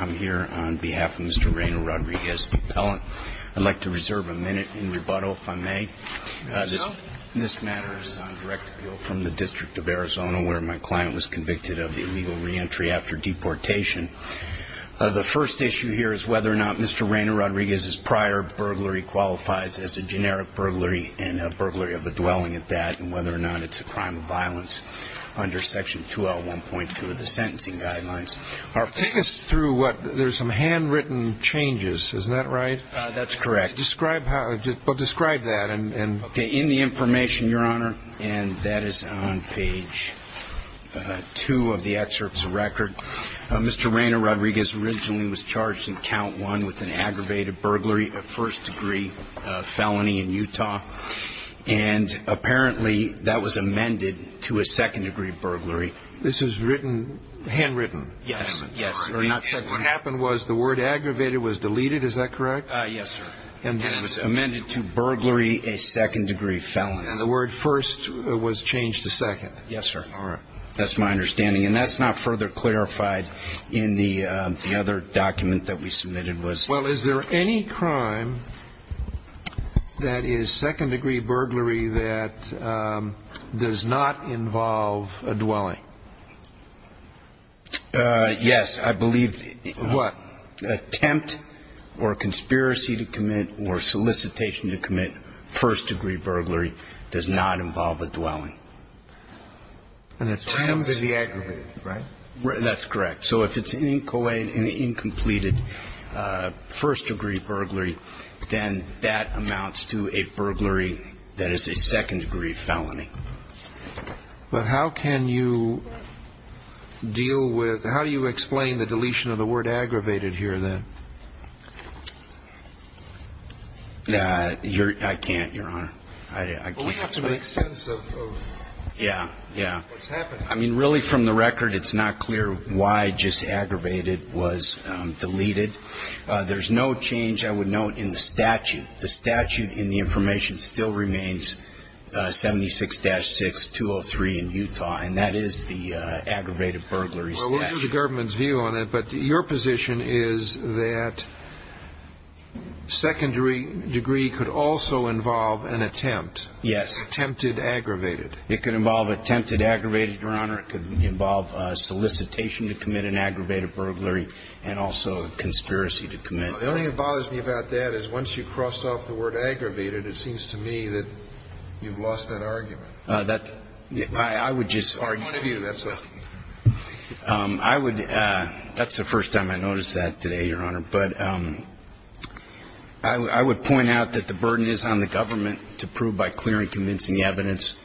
I'm here on behalf of Mr. Reina-Rodriguez, the appellant. I'd like to reserve a minute in rebuttal, if I may. This matter is on direct appeal from the District of Arizona, where my client was convicted of the illegal re-entry after deportation. The first issue here is whether or not Mr. Reina-Rodriguez's prior burglary qualifies as a generic burglary and whether or not it's a crime of violence under Section 2L1.2 of the Sentencing Guidelines. Take us through what, there's some handwritten changes, is that right? That's correct. Describe how, well, describe that. Okay, in the information, Your Honor. And that is on page 2 of the excerpt's record. Mr. Reina-Rodriguez originally was charged in Count 1 with an aggravated burglary, a first-degree felony in Utah. And apparently that was amended to a second-degree burglary. This is written, handwritten? Yes, yes. What happened was the word aggravated was deleted, is that correct? Yes, sir. And it was amended to burglary, a second-degree felony. Yes, sir. All right. That's my understanding. And that's not further clarified in the other document that we submitted. Well, is there any crime that is second-degree burglary that does not involve a dwelling? Yes, I believe. What? Attempt or conspiracy to commit or solicitation to commit first-degree burglary does not involve a dwelling. An attempt is the aggravated, right? That's correct. So if it's an incompleted first-degree burglary, then that amounts to a burglary that is a second-degree felony. But how can you deal with, how do you explain the deletion of the word aggravated here then? I can't, Your Honor. I can't. It doesn't make sense of what's happening. Yeah, yeah. I mean, really, from the record, it's not clear why just aggravated was deleted. There's no change, I would note, in the statute. The statute in the information still remains 76-6203 in Utah, and that is the aggravated burglary statute. Well, we'll give the government's view on it, but your position is that secondary degree could also involve an attempt. Yes. Attempted aggravated. It could involve attempted aggravated, Your Honor. It could involve solicitation to commit an aggravated burglary and also a conspiracy to commit. The only thing that bothers me about that is once you cross off the word aggravated, it seems to me that you've lost that argument. That, I would just argue. Or one of you, that's all. I would, that's the first time I noticed that today, Your Honor. But I would point out that the burden is on the government to prove by clear and convincing evidence.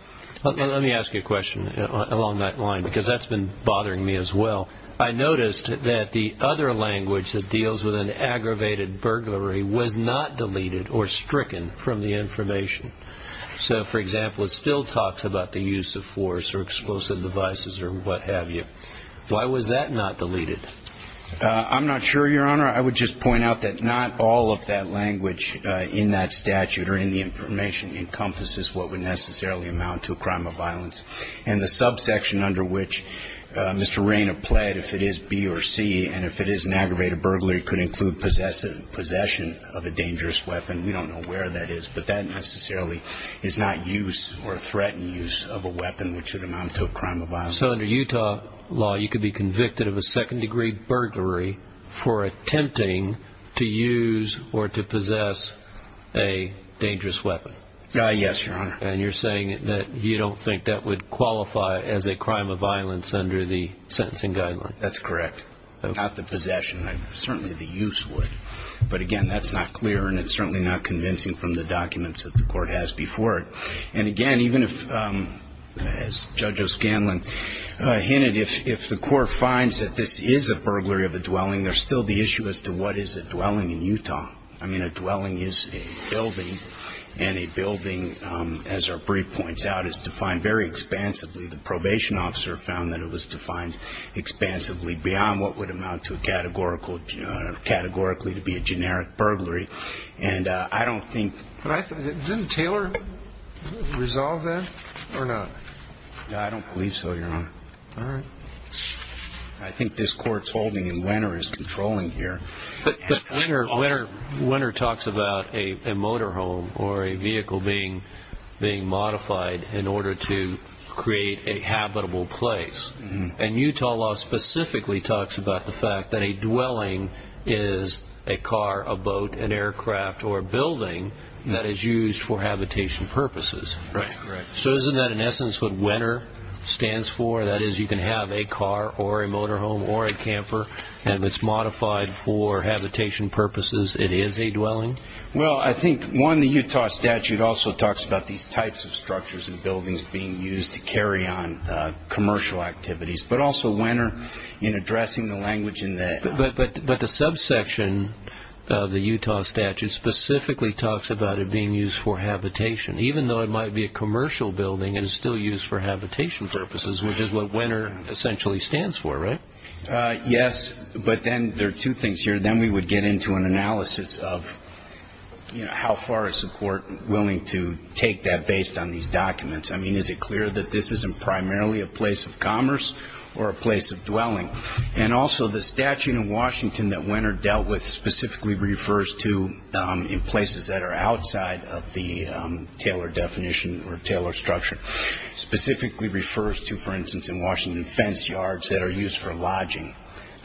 Let me ask you a question along that line because that's been bothering me as well. I noticed that the other language that deals with an aggravated burglary was not deleted or stricken from the information. So, for example, it still talks about the use of force or explosive devices or what have you. Why was that not deleted? I'm not sure, Your Honor. I would just point out that not all of that language in that statute or in the information encompasses what would necessarily amount to a crime of violence. And the subsection under which Mr. Rayner pled, if it is B or C, and if it is an aggravated burglary, could include possession of a dangerous weapon. We don't know where that is, but that necessarily is not use or threatened use of a weapon which would amount to a crime of violence. So under Utah law, you could be convicted of a second-degree burglary for attempting to use or to possess a dangerous weapon? Yes, Your Honor. And you're saying that you don't think that would qualify as a crime of violence under the sentencing guideline? That's correct. Not the possession. Certainly the use would. But, again, that's not clear and it's certainly not convincing from the documents that the court has before it. And, again, even if, as Judge O'Scanlan hinted, if the court finds that this is a burglary of a dwelling, there's still the issue as to what is a dwelling in Utah. I mean, a dwelling is a building, and a building, as our brief points out, is defined very expansively. The probation officer found that it was defined expansively beyond what would amount to categorically to be a generic burglary. But didn't Taylor resolve that or not? I don't believe so, Your Honor. All right. I think this court's holding and Winter is controlling here. But Winter talks about a motorhome or a vehicle being modified in order to create a habitable place. And Utah law specifically talks about the fact that a dwelling is a car, a boat, an aircraft, or a building that is used for habitation purposes. Right. So isn't that, in essence, what Winter stands for? That is, you can have a car or a motorhome or a camper, and if it's modified for habitation purposes, it is a dwelling? Well, I think, one, the Utah statute also talks about these types of structures and buildings being used to carry on commercial activities, but also Winter, in addressing the language in that. But the subsection of the Utah statute specifically talks about it being used for habitation. Even though it might be a commercial building, it is still used for habitation purposes, which is what Winter essentially stands for, right? Yes. But then there are two things here. Then we would get into an analysis of, you know, how far is the court willing to take that based on these documents? I mean, is it clear that this isn't primarily a place of commerce or a place of dwelling? And also the statute in Washington that Winter dealt with specifically refers to, in places that are outside of the Taylor definition or Taylor structure, specifically refers to, for instance, in Washington, fence yards that are used for lodging.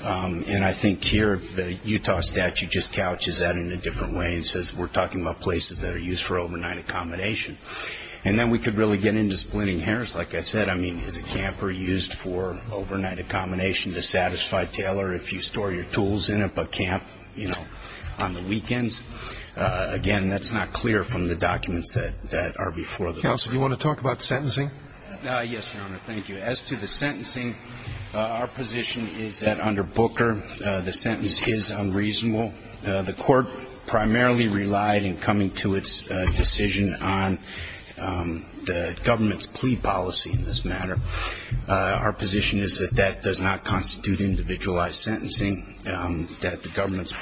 And I think here the Utah statute just couches that in a different way and says we're talking about places that are used for overnight accommodation. And then we could really get into splitting hairs. Like I said, I mean, is a camper used for overnight accommodation to satisfy Taylor if you store your tools in it but camp, you know, on the weekends? Again, that's not clear from the documents that are before the court. Counsel, do you want to talk about sentencing? Yes, Your Honor. Thank you. As to the sentencing, our position is that under Booker the sentence is unreasonable. The court primarily relied in coming to its decision on the government's plea policy in this matter. Our position is that that does not constitute individualized sentencing, that the government's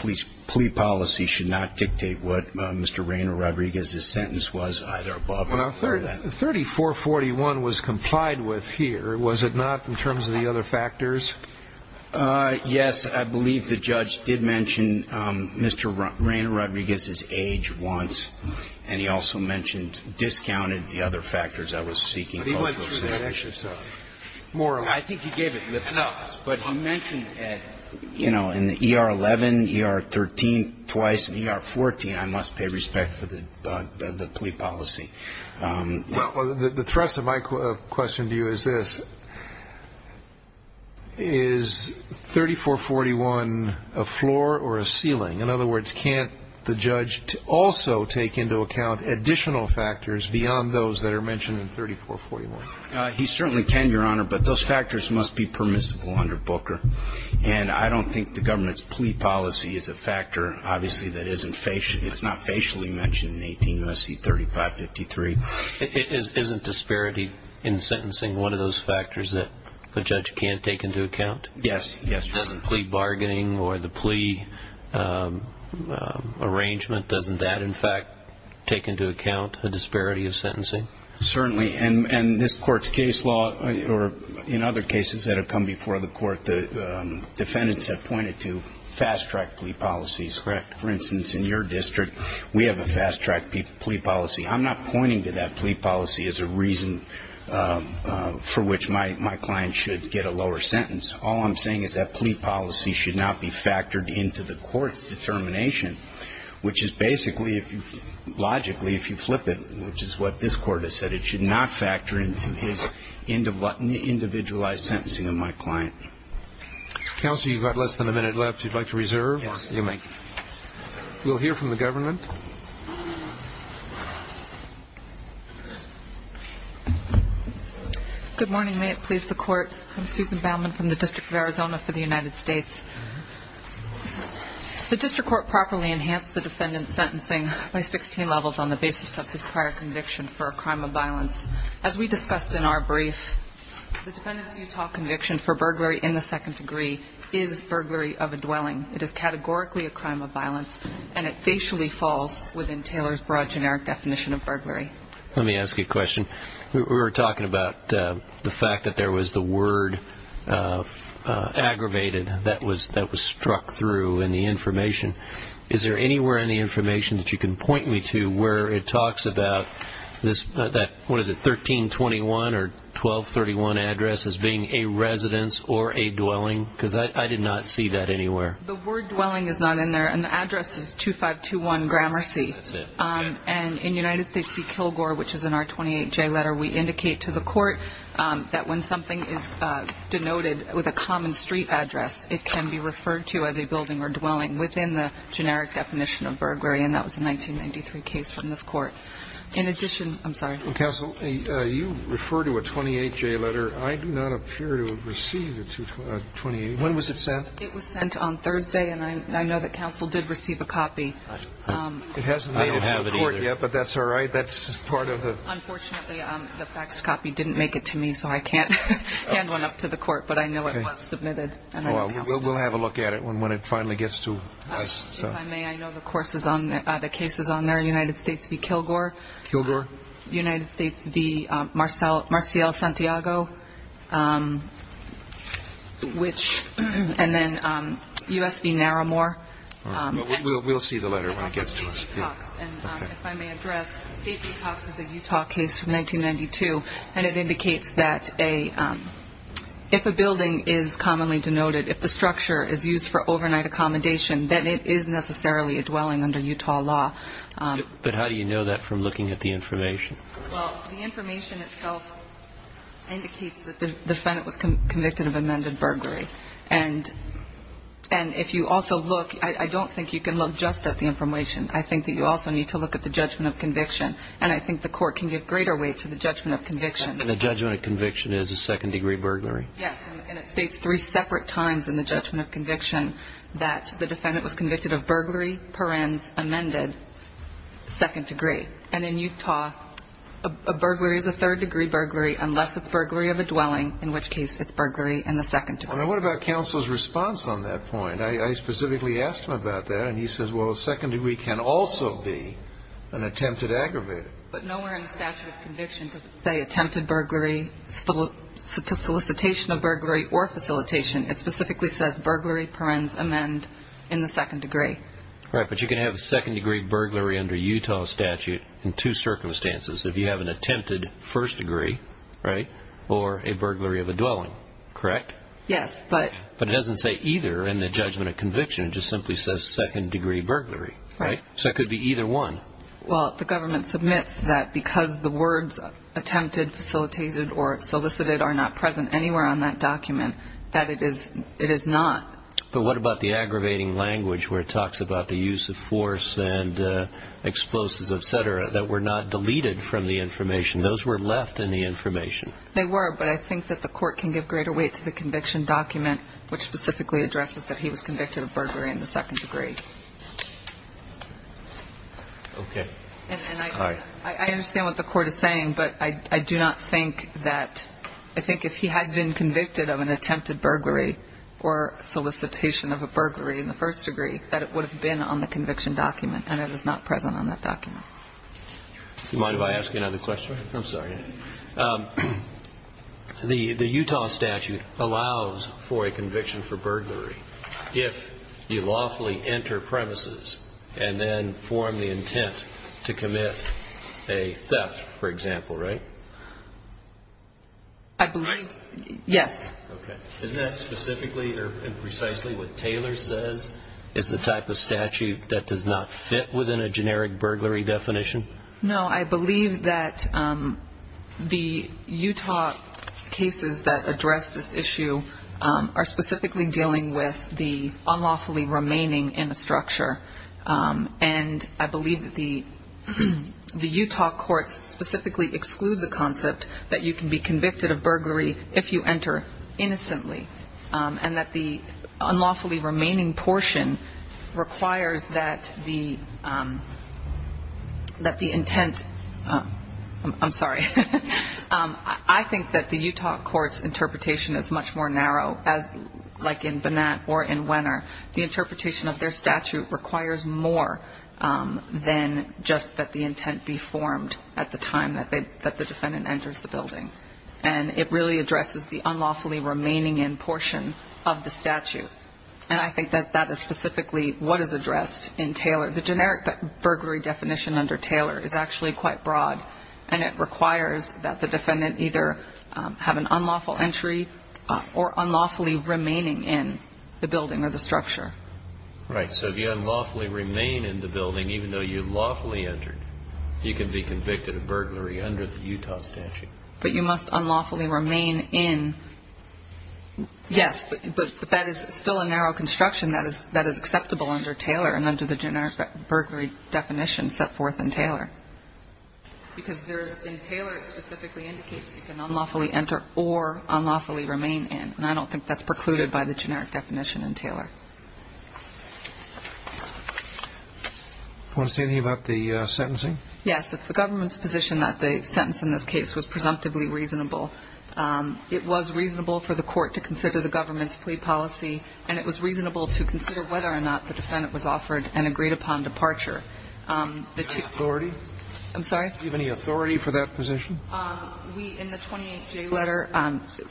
plea policy should not dictate what Mr. Rayner Rodriguez's sentence was either above or below that. 3441 was complied with here, was it not, in terms of the other factors? Yes. I believe the judge did mention Mr. Rayner Rodriguez's age once, and he also mentioned discounted the other factors I was seeking cultural status. But he went through that exercise. I think he gave it lip service. But he mentioned it, you know, in ER 11, ER 13, twice, and ER 14. I must pay respect for the plea policy. Well, the thrust of my question to you is this. Is 3441 a floor or a ceiling? In other words, can't the judge also take into account additional factors beyond those that are mentioned in 3441? He certainly can, Your Honor, but those factors must be permissible under Booker. And I don't think the government's plea policy is a factor, obviously, that isn't facially mentioned in 18 U.S.C. 3553. Isn't disparity in sentencing one of those factors that a judge can't take into account? Yes. Doesn't plea bargaining or the plea arrangement, doesn't that, in fact, take into account the disparity of sentencing? Certainly. And this Court's case law, or in other cases that have come before the Court, the defendants have pointed to fast-track plea policies. For instance, in your district, we have a fast-track plea policy. I'm not pointing to that plea policy as a reason for which my client should get a lower sentence. All I'm saying is that plea policy should not be factored into the Court's determination, which is basically, logically, if you flip it, which is what this Court has said, it should not factor into his individualized sentencing of my client. Counsel, you've got less than a minute left. You'd like to reserve? Yes. You may. We'll hear from the government. Good morning. May it please the Court. I'm Susan Baumann from the District of Arizona for the United States. The district court properly enhanced the defendant's sentencing by 16 levels on the basis of his prior conviction for a crime of violence. As we discussed in our brief, the defendant's Utah conviction for burglary in the second degree is burglary of a dwelling. It is categorically a crime of violence, and it facially falls within Taylor's broad generic definition of burglary. Let me ask you a question. We were talking about the fact that there was the word aggravated that was struck through in the information. Is there anywhere in the information that you can point me to where it talks about that 1321 or 1231 address as being a residence or a dwelling? Because I did not see that anywhere. The word dwelling is not in there, and the address is 2521 Gramercy. That's it. And in United States v. Kilgore, which is in our 28-J letter, we indicate to the court that when something is denoted with a common street address, it can be referred to as a building or dwelling within the generic definition of burglary, and that was a 1993 case from this court. In addition, I'm sorry. Counsel, you refer to a 28-J letter. I do not appear to have received a 28-J. When was it sent? It was sent on Thursday, and I know that counsel did receive a copy. I don't have it either. It hasn't made it to the court yet, but that's all right. Unfortunately, the faxed copy didn't make it to me, so I can't hand one up to the court, but I know it was submitted. We'll have a look at it when it finally gets to us. If I may, I know the case is on there, United States v. Kilgore. Kilgore. United States v. Marcial Santiago, and then U.S. v. Naramore. We'll see the letter when it gets to us. If I may address, State v. Cox is a Utah case from 1992, and it indicates that if a building is commonly denoted, if the structure is used for overnight accommodation, then it is necessarily a dwelling under Utah law. But how do you know that from looking at the information? Well, the information itself indicates that the defendant was convicted of amended burglary, and if you also look, I don't think you can look just at the information. I think that you also need to look at the judgment of conviction, and I think the court can give greater weight to the judgment of conviction. And the judgment of conviction is a second-degree burglary? Yes, and it states three separate times in the judgment of conviction that the defendant was convicted of burglary per ends amended, second degree. And in Utah, a burglary is a third-degree burglary unless it's burglary of a dwelling, in which case it's burglary in the second degree. Now, what about counsel's response on that point? I specifically asked him about that, and he says, well, a second degree can also be an attempted aggravated. But nowhere in the statute of conviction does it say attempted burglary, solicitation of burglary, or facilitation. It specifically says burglary per ends amend in the second degree. Right, but you can have a second-degree burglary under Utah statute in two circumstances. If you have an attempted first degree, right, or a burglary of a dwelling, correct? Yes. But it doesn't say either in the judgment of conviction. It just simply says second-degree burglary, right? So it could be either one. Well, the government submits that because the words attempted, facilitated, or solicited are not present anywhere on that document, that it is not. But what about the aggravating language where it talks about the use of force and explosives, et cetera, that were not deleted from the information? Those were left in the information. They were, but I think that the court can give greater weight to the conviction document, which specifically addresses that he was convicted of burglary in the second degree. Okay. And I understand what the court is saying, but I do not think that ‑‑ I think if he had been convicted of an attempted burglary or solicitation of a burglary in the first degree, that it would have been on the conviction document, and it is not present on that document. Do you mind if I ask another question? I'm sorry. The Utah statute allows for a conviction for burglary if you lawfully enter premises and then form the intent to commit a theft, for example, right? I believe ‑‑ Right? Yes. Okay. Isn't that specifically or precisely what Taylor says is the type of statute that does not fit within a generic burglary definition? No. I believe that the Utah cases that address this issue are specifically dealing with the unlawfully remaining in a structure, and I believe that the Utah courts specifically exclude the concept that you can be convicted of burglary if you enter innocently and that the unlawfully remaining portion requires that the intent ‑‑ I'm sorry. I think that the Utah court's interpretation is much more narrow, like in Bonat or in Wenner. The interpretation of their statute requires more than just that the intent be formed at the time that the defendant enters the building, and it really addresses the unlawfully remaining in portion of the statute, and I think that that is specifically what is addressed in Taylor. The generic burglary definition under Taylor is actually quite broad, and it requires that the defendant either have an unlawful entry or unlawfully remaining in the building or the structure. Right. So if you unlawfully remain in the building, even though you lawfully entered, you can be convicted of burglary under the Utah statute. But you must unlawfully remain in. Yes, but that is still a narrow construction that is acceptable under Taylor and under the generic burglary definition set forth in Taylor. Because in Taylor it specifically indicates you can unlawfully enter or unlawfully remain in, and I don't think that's precluded by the generic definition in Taylor. Do you want to say anything about the sentencing? Yes. It's the government's position that the sentence in this case was presumptively reasonable. It was reasonable for the court to consider the government's plea policy, and it was reasonable to consider whether or not the defendant was offered an agreed-upon departure. Do you have authority? I'm sorry? Do you have any authority for that position? We, in the 28J letter,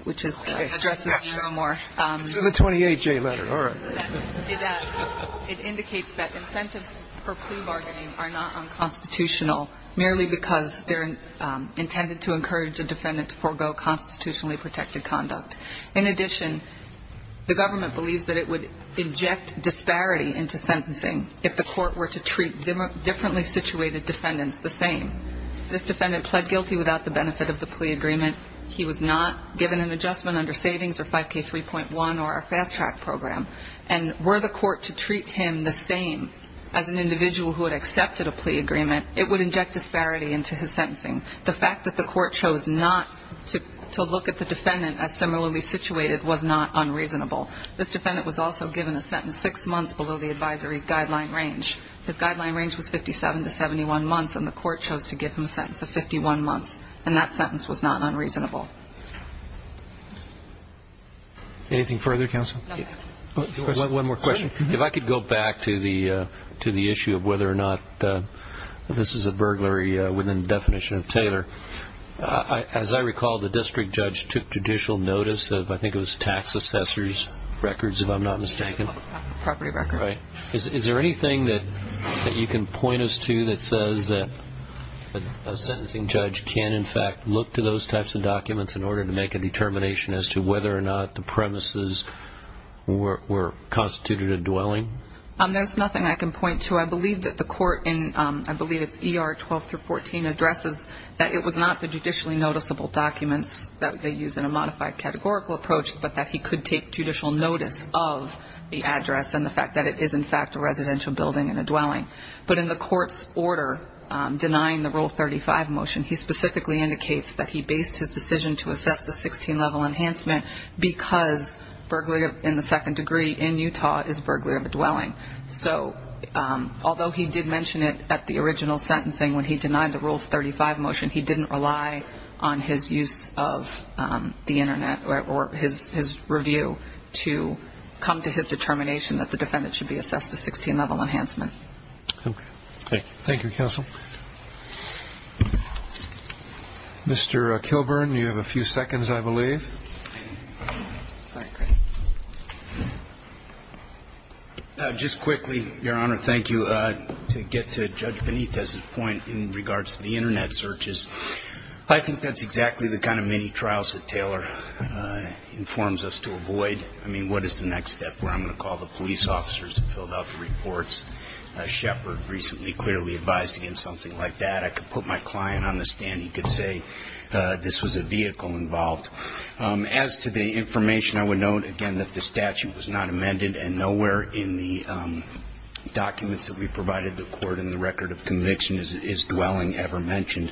which addresses me no more. It's in the 28J letter. All right. It indicates that incentives for plea bargaining are not unconstitutional merely because they're intended to encourage a defendant to forego constitutionally protected conduct. In addition, the government believes that it would inject disparity into sentencing if the court were to treat differently situated defendants the same. This defendant pled guilty without the benefit of the plea agreement. He was not given an adjustment under savings or 5K3.1 or a fast-track program. And were the court to treat him the same as an individual who had accepted a plea agreement, it would inject disparity into his sentencing. The fact that the court chose not to look at the defendant as similarly situated was not unreasonable. This defendant was also given a sentence six months below the advisory guideline range. His guideline range was 57 to 71 months, and the court chose to give him a sentence of 51 months, and that sentence was not unreasonable. Anything further, counsel? One more question. If I could go back to the issue of whether or not this is a burglary within the definition of Taylor. As I recall, the district judge took judicial notice of, I think it was, tax assessor's records, if I'm not mistaken. Property record. Right. Is there anything that you can point us to that says that a sentencing judge can, in fact, look to those types of documents in order to make a determination as to whether or not the premises were constituted a dwelling? There's nothing I can point to. I believe that the court in, I believe it's ER 12-14, addresses that it was not the judicially noticeable documents that they use in a modified categorical approach, but that he could take judicial notice of the address and the fact that it is, in fact, a residential building and a dwelling. But in the court's order denying the Rule 35 motion, he specifically indicates that he based his decision to assess the 16-level enhancement because burglary in the second degree in Utah is burglary of a dwelling. So although he did mention it at the original sentencing when he denied the Rule 35 motion, he didn't rely on his use of the Internet or his review to come to his determination that the defendant should be assessed a 16-level enhancement. Thank you. Thank you, Counsel. Mr. Kilburn, you have a few seconds, I believe. Just quickly, Your Honor, thank you. To get to Judge Benitez's point in regards to the Internet searches, I think that's exactly the kind of many trials that Taylor informs us to avoid. I mean, what is the next step where I'm going to call the police officers and fill out the reports? Shepard recently clearly advised against something like that. I could put my client on the stand. He could say this was a vehicle involved. As to the information, I would note, again, that the statute was not amended, and nowhere in the documents that we provided the court in the record of conviction is dwelling ever mentioned.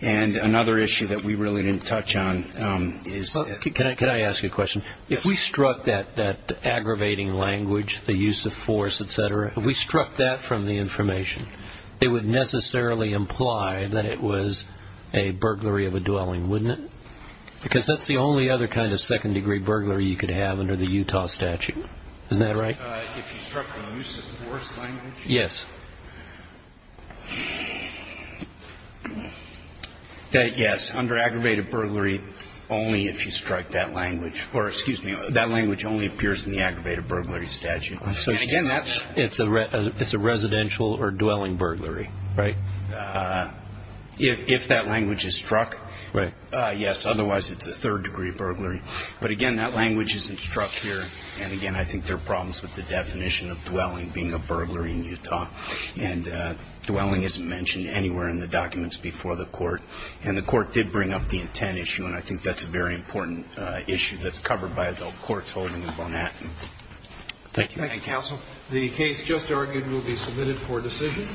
Can I ask you a question? If we struck that aggravating language, the use of force, et cetera, if we struck that from the information, it would necessarily imply that it was a burglary of a dwelling, wouldn't it? Because that's the only other kind of second-degree burglary you could have under the Utah statute. Isn't that right? If you struck the use of force language? Yes. Under aggravated burglary, only if you strike that language. Or, excuse me, that language only appears in the aggravated burglary statute. It's a residential or dwelling burglary, right? If that language is struck, yes. Otherwise, it's a third-degree burglary. But, again, that language isn't struck here. And, again, in Utah. And dwelling isn't mentioned anywhere in the documents before the court. And the court did bring up the intent issue, and I think that's a very important issue that's covered by the courts holding in Manhattan. Thank you. Thank you, counsel. The case just argued will be submitted for decision.